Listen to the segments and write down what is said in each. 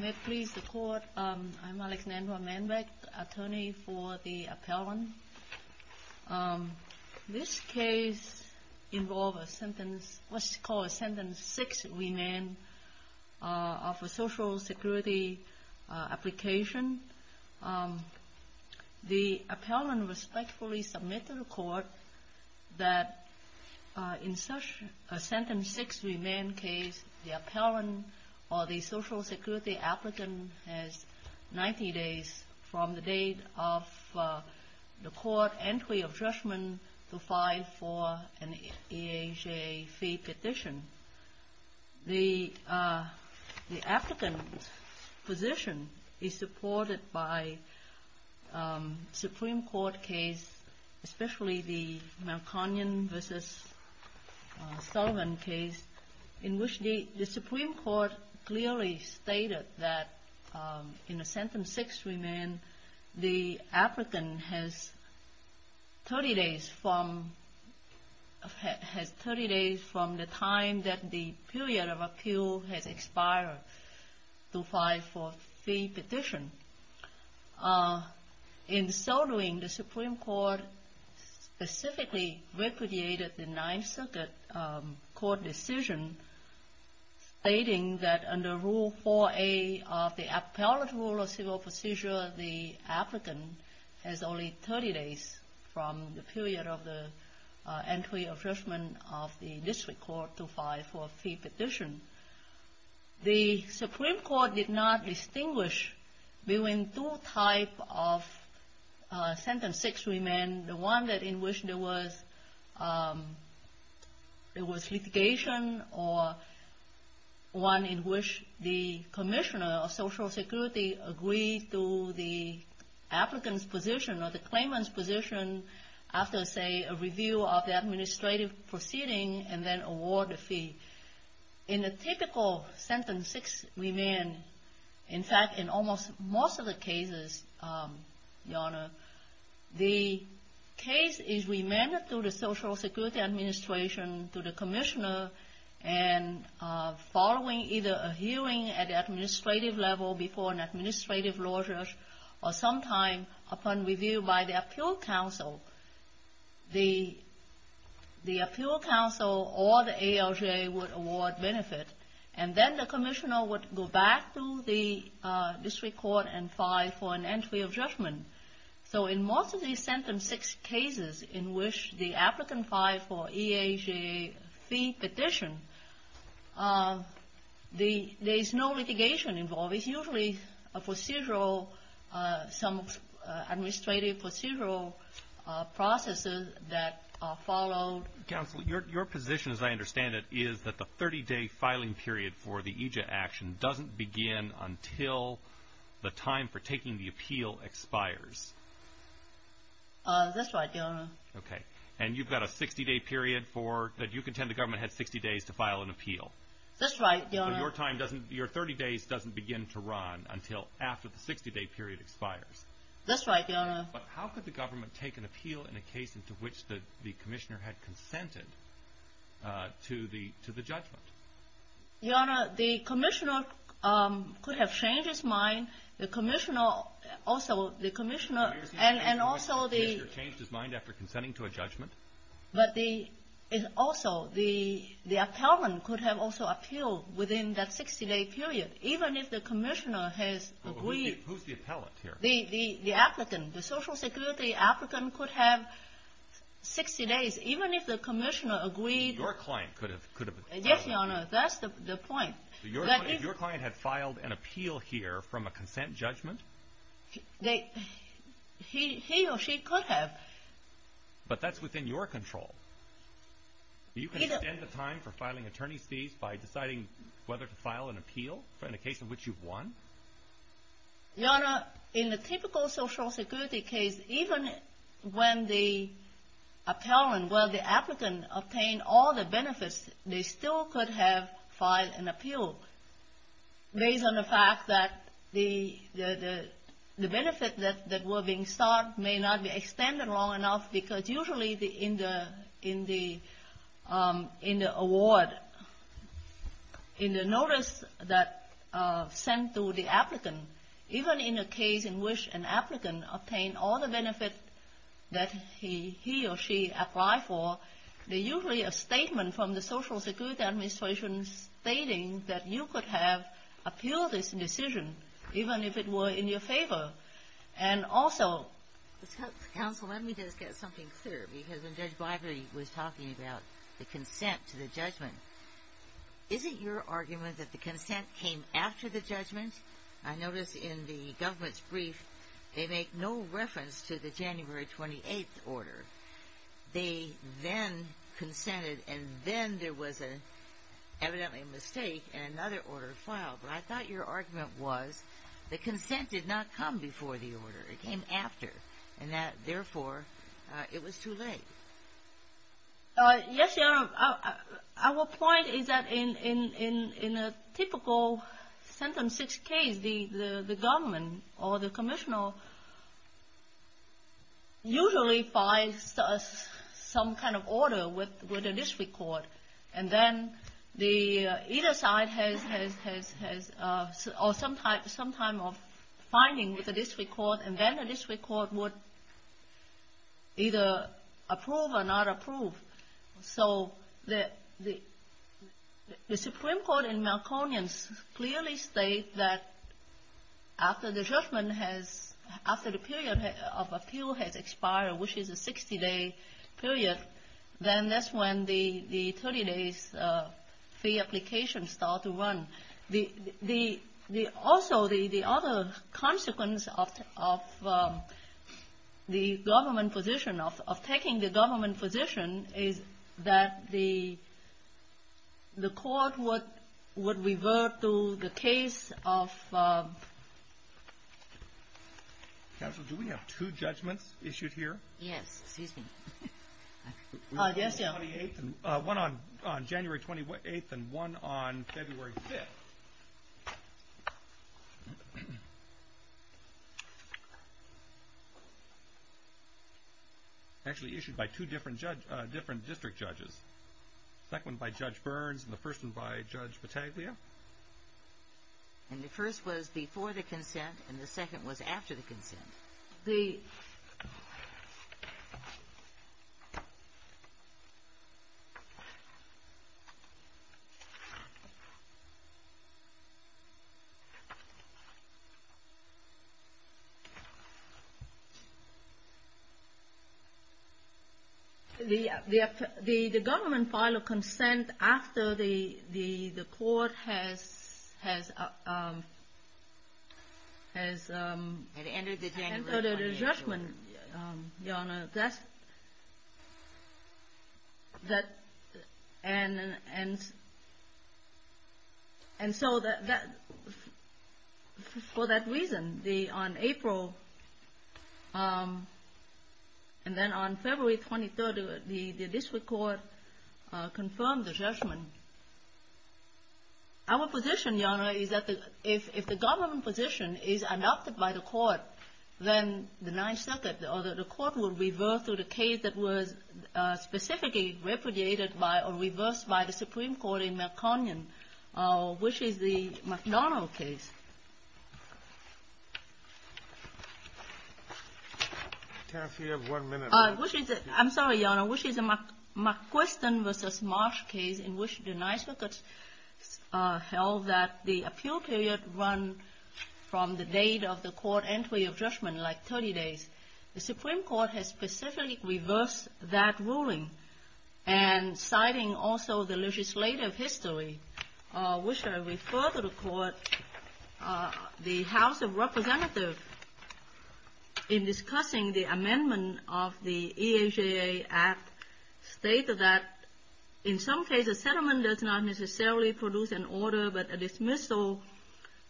May it please the court, I'm Alexandra Manbeck, attorney for the appellant. This case involves a sentence, what's called a sentence six remand of a Social Security application. The appellant respectfully submits to the court that in such a sentence six remand case, the appellant or the Social Security applicant has 90 days from the date of the court entry of judgment to file for an EHA fee petition. The applicant's position is Supreme Court case, especially the Melkonian v. Sullivan case, in which the Supreme Court clearly stated that in a sentence six remand, the applicant has 30 days from the time that the In so doing, the Supreme Court specifically recreated the Ninth Circuit court decision stating that under Rule 4A of the Appellate Rule of Civil Procedure, the applicant has only 30 days from the period of the entry of judgment of the district court to file for a fee petition. The Supreme Court did not distinguish between two types of sentence six remand, the one in which there was litigation or one in which the commissioner of Social Security agreed to the applicant's position or the claimant's position after, say, a review of the administrative proceeding and then award the fee. In a typical sentence six remand, in fact, in almost most of the cases, Your Honor, the case is remanded to the Social Security administration, to the commissioner, and following either a hearing at the administrative level before an administrative law judge or sometime upon review by the Appeal Council or the ALJ would award benefit, and then the commissioner would go back to the district court and file for an entry of judgment. So in most of these sentence six cases in which the applicant filed for EAJ fee petition, there is no litigation involved. It's usually a procedural, some administrative procedural processes that are followed. Counsel, your position, as I understand it, is that the 30-day filing period for the EJA action doesn't begin until the time for taking the appeal expires. That's right, Your Honor. Okay. And you've got a 60-day period for, that you contend the government had 60 days to file an appeal. That's right, Your Honor. So your time doesn't, your 30 days doesn't begin to run until after the 60-day period expires. That's right, Your Honor. But how could the government take an appeal in a case into which the commissioner had consented to the judgment? Your Honor, the commissioner could have changed his mind. The commissioner also, the commissioner, and also the Commissioner changed his mind after consenting to a judgment? But the, also, the appellant could have also appealed within that 60-day period, even if the commissioner has agreed Who's the appellant here? The appellant, the Social Security appellant could have 60 days, even if the commissioner agreed Your client could have appealed. Yes, Your Honor, that's the point. If your client had filed an appeal here from a consent judgment? They, he or she could have. But that's within your control. Either You can extend the time for filing attorney's fees by deciding whether to file an appeal in a case in which you've won? Your Honor, in the typical Social Security case, even when the appellant, well, the applicant obtained all the benefits, they still could have filed an appeal, based on the fact that the benefit that were being sought may not be extended long enough, because usually in the award, in the notice that's sent to the applicant, even in a case in which an applicant obtained all the benefits that he or she applied for, there's usually a statement from the Social Security Administration stating that you could have appealed this decision, even if it were in your favor. And also Counsel, let me just get something clear, because when Judge Biberly was talking about the consent to the judgment, is it your argument that the consent came after the judgment? I notice in the government's brief, they make no reference to the January 28th order. They then consented, and then there was evidently a mistake and another order filed. But I thought your argument was the consent did not come before the order. It came after, and that, therefore, it was too late. Yes, Your Honor. Our point is that in a typical Sentence 6 case, the government or the commissioner usually files some kind of order with the district court, and then either side has some kind of finding with the district court, and then the district court would either approve or not approve. So the Supreme Court in Melkonian clearly states that after the period of appeal has expired, which is a 60-day period, then that's when the 30-day fee application starts to run. Also, the other consequence of the government position, of taking the government position, is that the court would revert to the case of ---- Counsel, do we have two judgments issued here? Yes. Excuse me. Yes, Your Honor. One on January 28th and one on February 5th. Actually issued by two different district judges. The second one by Judge Burns and the first one by Judge Battaglia. And the first was before the consent and the second was after the consent. The government filed a consent after the court has entered a judgment, Your Honor. And so for that reason, on April and then on February 23rd, the district court confirmed the judgment. Our position, Your Honor, is that if the government position is adopted by the court, then the Ninth Circuit or the court would revert to the case that was specifically repudiated by or reversed by the Supreme Court in Melkonian, which is the McDonnell case. Can I have one minute? I'm sorry, Your Honor. Which is a McQuiston v. Marsh case in which the Ninth Circuit held that the appeal period run from the date of the court entry of judgment, like 30 days. The Supreme Court has specifically reversed that ruling and citing also the legislative history, which I refer to the court. The House of Representatives, in discussing the amendment of the EHA Act, stated that, in some cases, settlement does not necessarily produce an order but a dismissal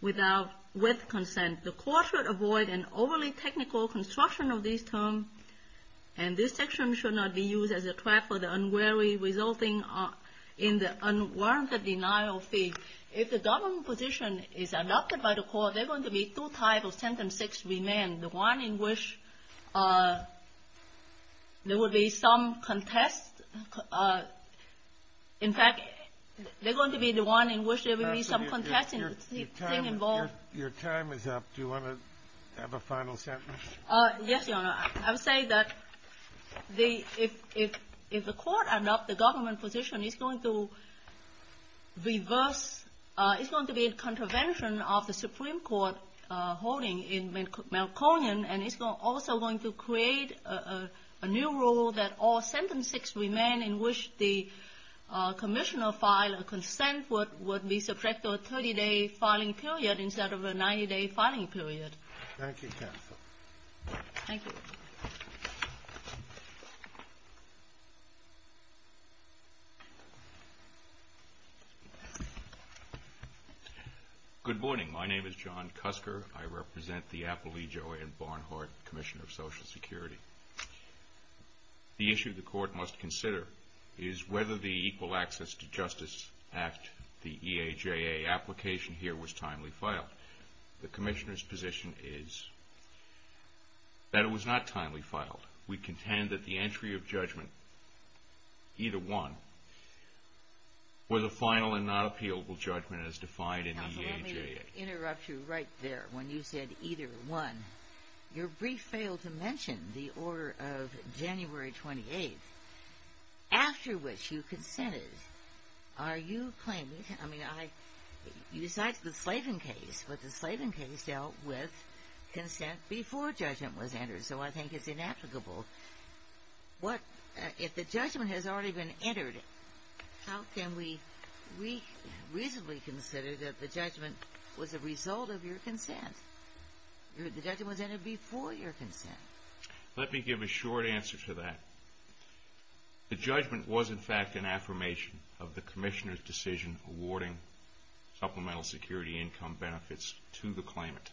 with consent. The court should avoid an overly technical construction of these terms and this section should not be used as a track for the unwary, resulting in the unwarranted denial of fee. If the government position is adopted by the court, there are going to be two types of Sentence 6 remain. The one in which there will be some contest. In fact, they're going to be the one in which there will be some contesting thing involved. Your time is up. Do you want to have a final sentence? Yes, Your Honor. I would say that the – if the court adopts the government position, it's going to reverse – it's going to be a contravention of the Supreme Court holding in Melkonian, and it's also going to create a new rule that all Sentence 6 remain in which the Commissioner filed a consent would be subject to a 30-day filing period instead of a 90-day filing period. Thank you, counsel. Thank you. Good morning. My name is John Cusker. I represent the Appalachian and Barnhart Commission of Social Security. The issue the court must consider is whether the Equal Access to Justice Act, the EAJA application here, was timely filed. The Commissioner's position is that it was not timely filed. We contend that the entry of judgment, either one, was a final and not appealable judgment as defied in the EAJA. Counsel, let me interrupt you right there. When you said either one, your brief failed to mention the order of January 28th, after which you consented. Are you claiming – I mean, you cited the Slavin case, but the Slavin case dealt with consent before judgment was entered, so I think it's inapplicable. If the judgment has already been entered, how can we reasonably consider that the judgment was a result of your consent? The judgment was entered before your consent. Let me give a short answer to that. The judgment was, in fact, an affirmation of the Commissioner's decision awarding supplemental security income benefits to the claimant.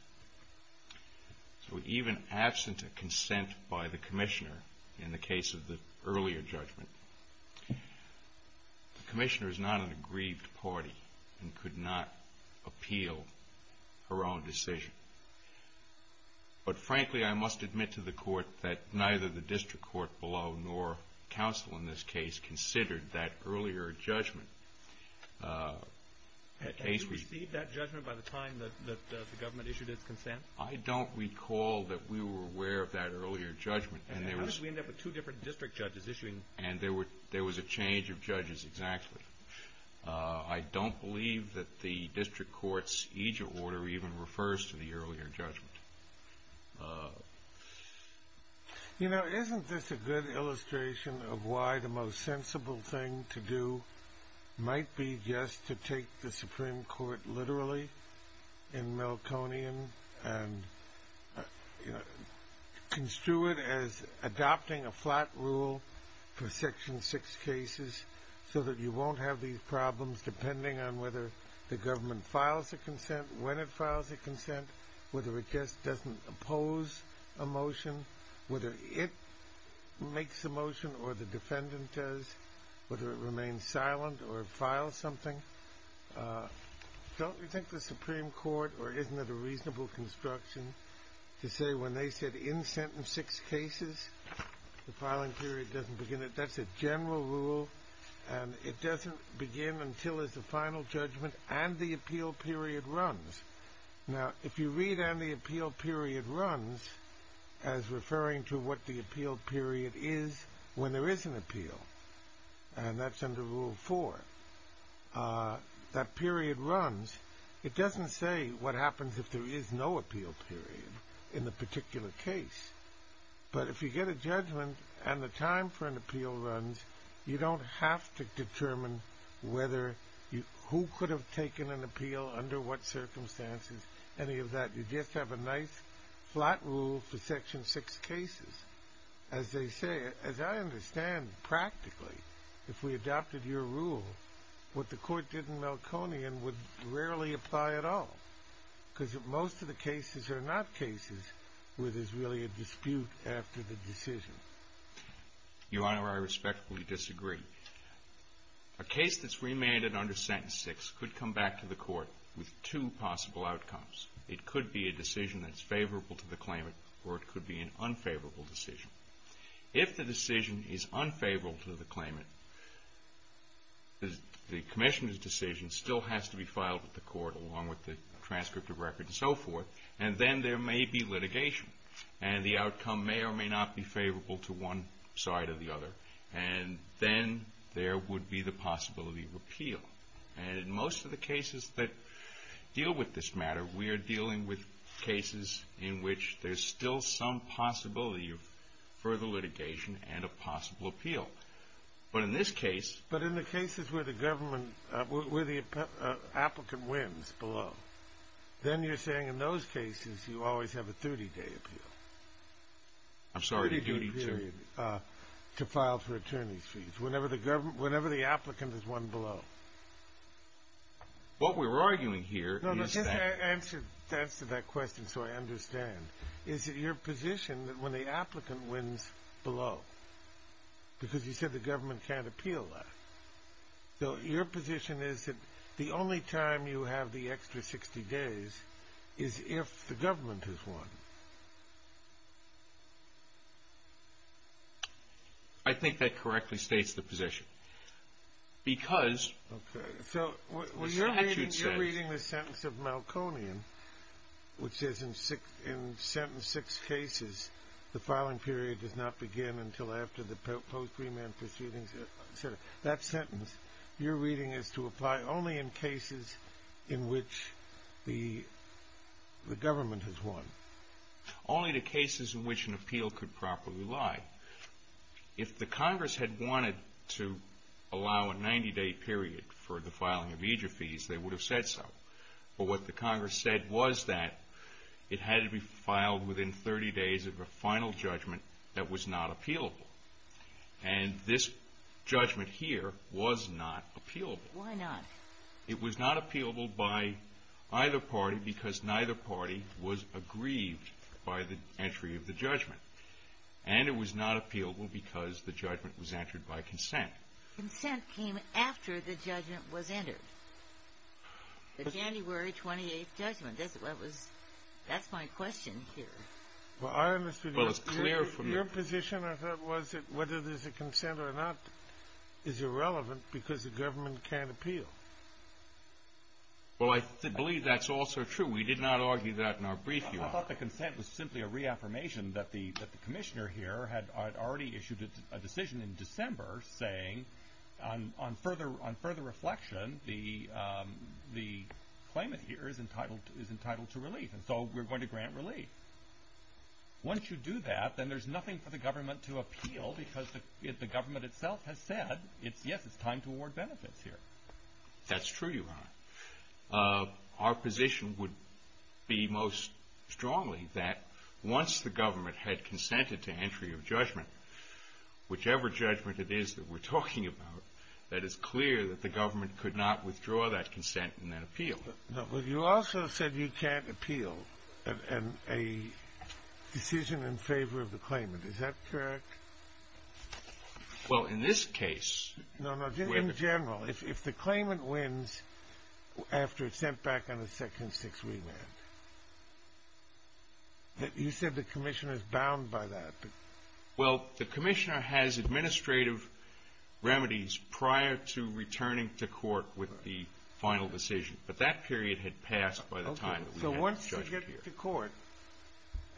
So even absent a consent by the Commissioner in the case of the earlier judgment, the Commissioner is not an aggrieved party and could not appeal her own decision. But frankly, I must admit to the Court that neither the district court below nor counsel in this case considered that earlier judgment. Had you received that judgment by the time that the government issued its consent? I don't recall that we were aware of that earlier judgment. How did we end up with two different district judges issuing – And there was a change of judges, exactly. I don't believe that the district court's eejit order even refers to the earlier judgment. You know, isn't this a good illustration of why the most sensible thing to do might be just to take the Supreme Court literally in Milconian and construe it as adopting a flat rule for Section 6 cases so that you won't have these problems depending on whether the government files a consent, when it files a consent, whether it just doesn't oppose a motion, whether it makes a motion or the defendant does, whether it remains silent or files something? Don't you think the Supreme Court – or isn't it a reasonable construction to say when they said, in Sentence 6 cases, the filing period doesn't begin? That's a general rule and it doesn't begin until there's a final judgment and the appeal period runs. Now, if you read, and the appeal period runs, as referring to what the appeal period is when there is an appeal, and that's under Rule 4, that period runs. It doesn't say what happens if there is no appeal period in the particular case, but if you get a judgment and the time for an appeal runs, you don't have to determine whether – who could have taken an appeal, under what circumstances, any of that. You just have a nice flat rule for Section 6 cases. As they say, as I understand practically, if we adopted your rule, what the Court did in Melconian would rarely apply at all, because most of the cases are not cases where there's really a dispute after the decision. Your Honor, I respectfully disagree. A case that's remanded under Sentence 6 could come back to the Court with two possible outcomes. It could be a decision that's favorable to the claimant, or it could be an unfavorable decision. If the decision is unfavorable to the claimant, the commission's decision still has to be filed with the Court, along with the transcript of record and so forth, and then there may be litigation, and the outcome may or may not be favorable to one side or the other, and then there would be the possibility of appeal. And in most of the cases that deal with this matter, we are dealing with cases in which there's still some possibility of further litigation and a possible appeal. But in this case – But in the cases where the government – where the applicant wins below, then you're saying in those cases you always have a 30-day appeal. I'm sorry, a duty period. To file for attorney's fees whenever the applicant has won below. What we're arguing here is that – No, but just to answer that question so I understand, is it your position that when the applicant wins below, because you said the government can't appeal that, so your position is that the only time you have the extra 60 days is if the government has won. I think that correctly states the position. Because – Okay, so you're reading the sentence of Malconian, which says in sentence 6 cases, the filing period does not begin until after the post-remand proceedings. That sentence you're reading is to apply only in cases in which the government has won. Only the cases in which an appeal could properly lie. If the Congress had wanted to allow a 90-day period for the filing of major fees, they would have said so. But what the Congress said was that it had to be filed within 30 days of a final judgment that was not appealable. And this judgment here was not appealable. Why not? It was not appealable by either party because neither party was aggrieved by the entry of the judgment. And it was not appealable because the judgment was entered by consent. Consent came after the judgment was entered. The January 28th judgment. That's what was – that's my question here. Well, it's clear from – Your position, I thought, was that whether there's a consent or not is irrelevant because the government can't appeal. Well, I believe that's also true. We did not argue that in our brief view. I thought the consent was simply a reaffirmation that the commissioner here had already issued a decision in December saying on further reflection, the claimant here is entitled to relief. And so we're going to grant relief. Once you do that, then there's nothing for the government to appeal because the government itself has said, yes, it's time to award benefits here. That's true, Your Honor. Our position would be most strongly that once the government had consented to entry of judgment, whichever judgment it is that we're talking about, that it's clear that the government could not withdraw that consent and then appeal it. But you also said you can't appeal a decision in favor of the claimant. Is that correct? Well, in this case – No, no, just in general. If the claimant wins after it's sent back on a second six remand, you said the commissioner's bound by that. Well, the commissioner has administrative remedies prior to returning to court with the final decision. But that period had passed by the time that we had the judgment here. Okay. So once you get to court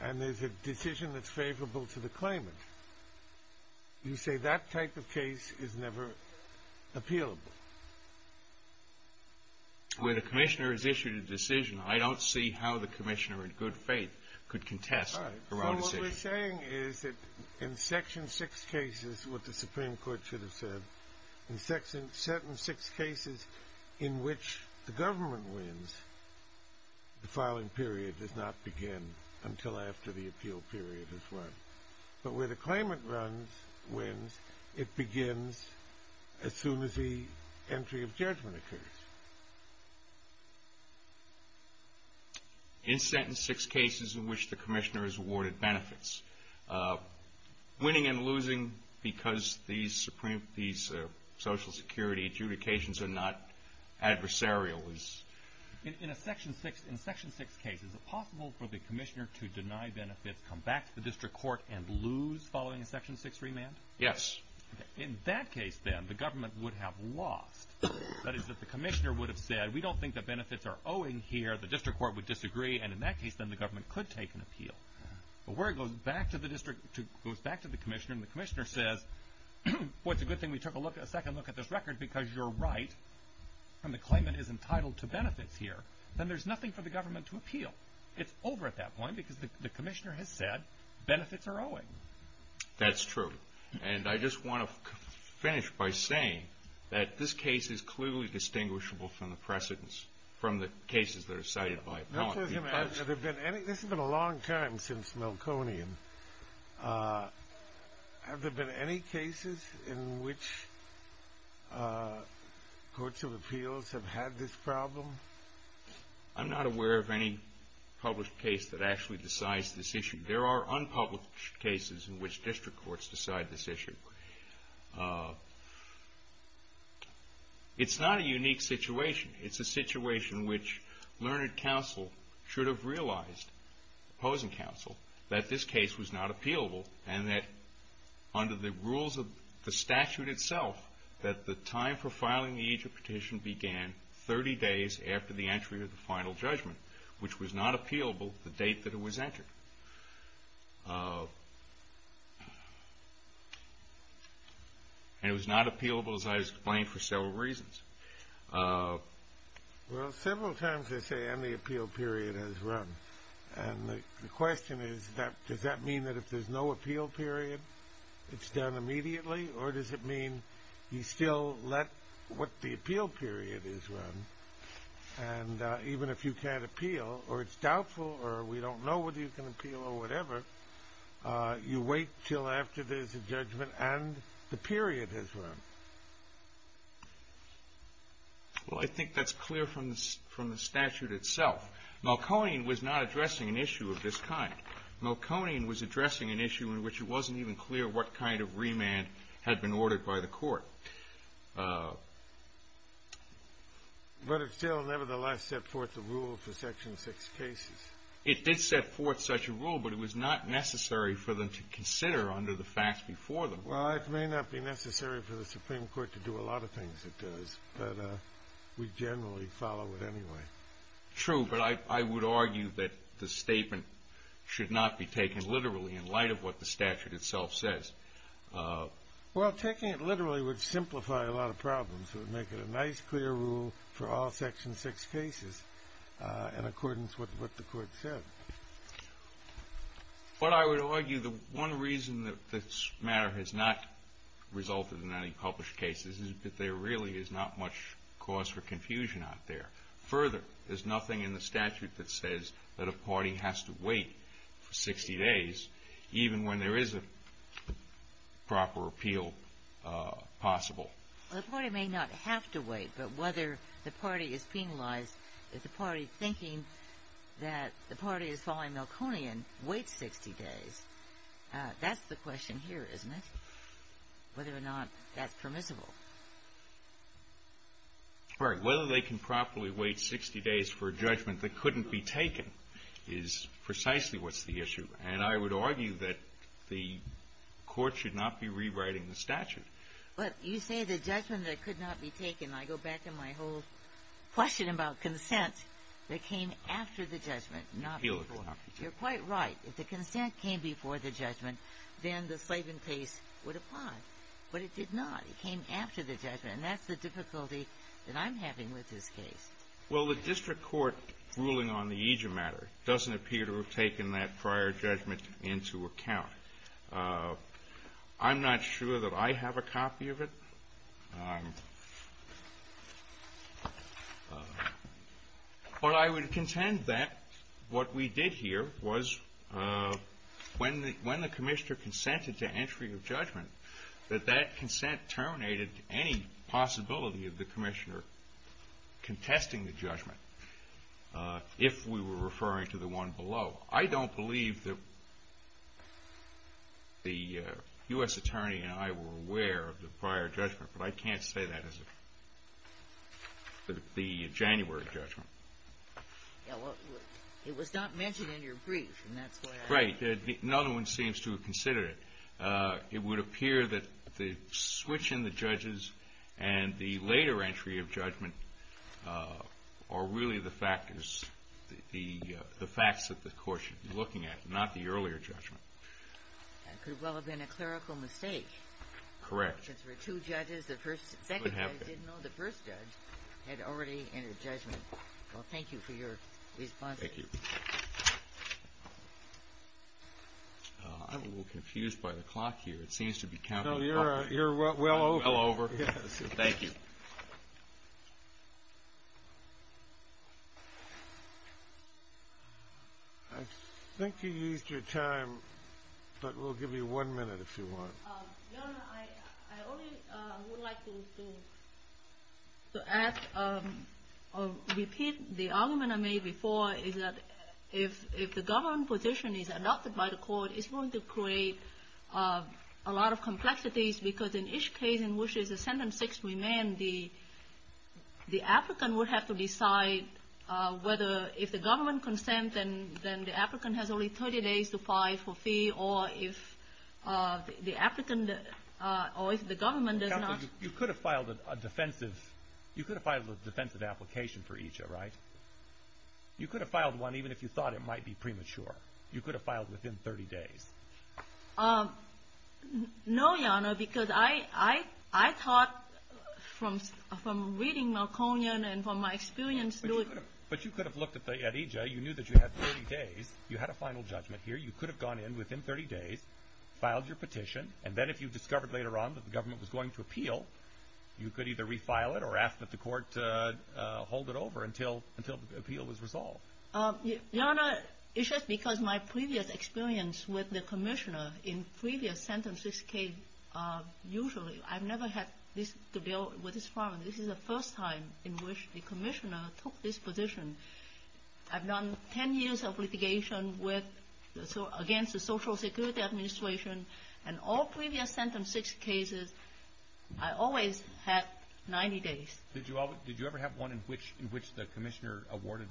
and there's a decision that's favorable to the claimant, you say that type of case is never appealable. When a commissioner has issued a decision, I don't see how the commissioner in good faith could contest a wrong decision. What you're saying is that in Section 6 cases, what the Supreme Court should have said, in certain 6 cases in which the government wins, the filing period does not begin until after the appeal period has run. But where the claimant wins, it begins as soon as the entry of judgment occurs. In sentence 6 cases in which the commissioner has awarded benefits, winning and losing because these Social Security adjudications are not adversarial is – In Section 6 cases, is it possible for the commissioner to deny benefits, come back to the district court and lose following a Section 6 remand? Yes. In that case, then, the government would have lost. That is that the commissioner would have said, we don't think that benefits are owing here. The district court would disagree. And in that case, then, the government could take an appeal. But where it goes back to the commissioner and the commissioner says, well, it's a good thing we took a second look at this record because you're right and the claimant is entitled to benefits here, then there's nothing for the government to appeal. It's over at that point because the commissioner has said benefits are owing. That's true. And I just want to finish by saying that this case is clearly distinguishable from the precedents, from the cases that are cited by Paul. This has been a long time since Melconian. Have there been any cases in which courts of appeals have had this problem? I'm not aware of any published case that actually decides this issue. There are unpublished cases in which district courts decide this issue. It's not a unique situation. It's a situation which learned counsel should have realized, opposing counsel, that this case was not appealable and that under the rules of the statute itself, that the time for filing the Egypt petition began 30 days after the entry of the final judgment, which was not appealable the date that it was entered. And it was not appealable, as I explained, for several reasons. Well, several times they say, and the appeal period has run. And the question is, does that mean that if there's no appeal period it's done immediately or does it mean you still let what the appeal period is run? And even if you can't appeal or it's doubtful or we don't know whether you can appeal or whatever, you wait until after there's a judgment and the period has run. Well, I think that's clear from the statute itself. Melconian was not addressing an issue of this kind. Melconian was addressing an issue in which it wasn't even clear what kind of remand had been ordered by the court. But it still nevertheless set forth the rule for Section 6 cases. It did set forth such a rule, but it was not necessary for them to consider under the facts before them. Well, it may not be necessary for the Supreme Court to do a lot of things it does, but we generally follow it anyway. True, but I would argue that the statement should not be taken literally in light of what the statute itself says. Well, taking it literally would simplify a lot of problems. It would make it a nice clear rule for all Section 6 cases in accordance with what the court said. But I would argue the one reason that this matter has not resulted in any published cases is that there really is not much cause for confusion out there. Further, there's nothing in the statute that says that a party has to wait for 60 days even when there is a proper appeal possible. Well, the party may not have to wait, but whether the party is penalized, if the party, thinking that the party is following Melconian, waits 60 days, that's the question here, isn't it? Whether or not that's permissible. Right. Whether they can properly wait 60 days for a judgment that couldn't be taken is precisely what's the issue. And I would argue that the court should not be rewriting the statute. But you say the judgment that could not be taken. I go back to my whole question about consent that came after the judgment, not before. You're quite right. If the consent came before the judgment, then the Slavin case would apply. But it did not. It came after the judgment, and that's the difficulty that I'm having with this case. Well, the district court ruling on the EJIA matter doesn't appear to have taken that prior judgment into account. I'm not sure that I have a copy of it. But I would contend that what we did here was when the commissioner consented to entry of judgment, that that consent terminated any possibility of the commissioner contesting the judgment, if we were referring to the one below. I don't believe that the U.S. Attorney and I were aware of the prior judgment, but I can't say that as the January judgment. Yeah, well, it was not mentioned in your brief, and that's why I ask. Right. Another one seems to have considered it. It would appear that the switch in the judges and the later entry of judgment are really the factors, the facts that the court should be looking at, not the earlier judgment. That could well have been a clerical mistake. Correct. Since there were two judges, the second judge didn't know the first judge had already entered judgment. Well, thank you for your response. Thank you. I'm a little confused by the clock here. It seems to be counting up. Well, you're well over. Well over. Thank you. I think you used your time, but we'll give you one minute if you want. Your Honor, I only would like to add or repeat the argument I made before, is that if the government position is adopted by the court, it's going to create a lot of complexities, because in each case in which there's a sentence that's remained, the applicant would have to decide whether if the government consent, then the applicant has only 30 days to file for fee, or if the applicant or if the government does not. Counsel, you could have filed a defensive application for EJA, right? You could have filed one even if you thought it might be premature. You could have filed within 30 days. No, Your Honor, because I thought from reading Malconian and from my experience. But you could have looked at EJA. You knew that you had 30 days. You had a final judgment here. You could have gone in within 30 days, filed your petition, and then if you discovered later on that the government was going to appeal, you could either refile it or ask that the court hold it over until the appeal was resolved. Your Honor, it's just because my previous experience with the commissioner in previous sentences came usually. I've never had this bill with this firm. This is the first time in which the commissioner took this position. I've done 10 years of litigation against the Social Security Administration, and all previous sentence cases, I always had 90 days. Did you ever have one in which the commissioner awarded?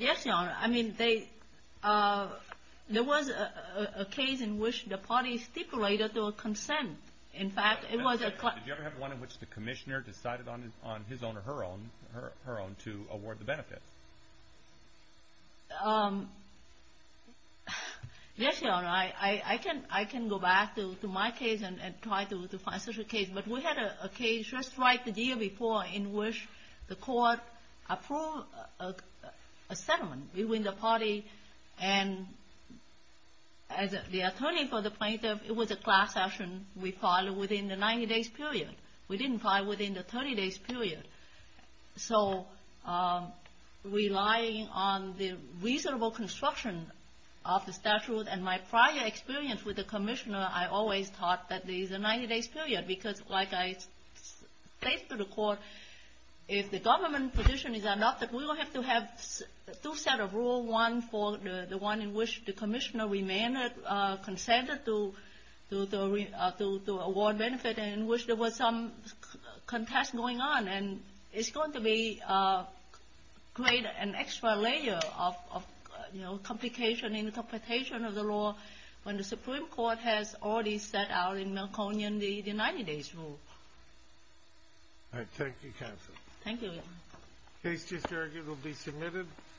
Yes, Your Honor. I mean, there was a case in which the party stipulated their consent. Did you ever have one in which the commissioner decided on his own or her own to award the benefits? Yes, Your Honor. I can go back to my case and try to find such a case. But we had a case just right the year before in which the court approved a settlement between the party and the attorney for the plaintiff. It was a class action. We filed it within the 90 days period. We didn't file it within the 30 days period. So relying on the reasonable construction of the statute and my prior experience with the commissioner, I always thought that these are 90 days period because, like I stated to the court, if the government position is adopted, we will have to have two sets of rules, one for the one in which the commissioner consented to award benefits and in which there was some contest going on. And it's going to create an extra layer of complication in the computation of the law when the Supreme Court has already set out in Melkonian the 90 days rule. All right. Thank you, counsel. Thank you, Your Honor. The case just argued will be submitted.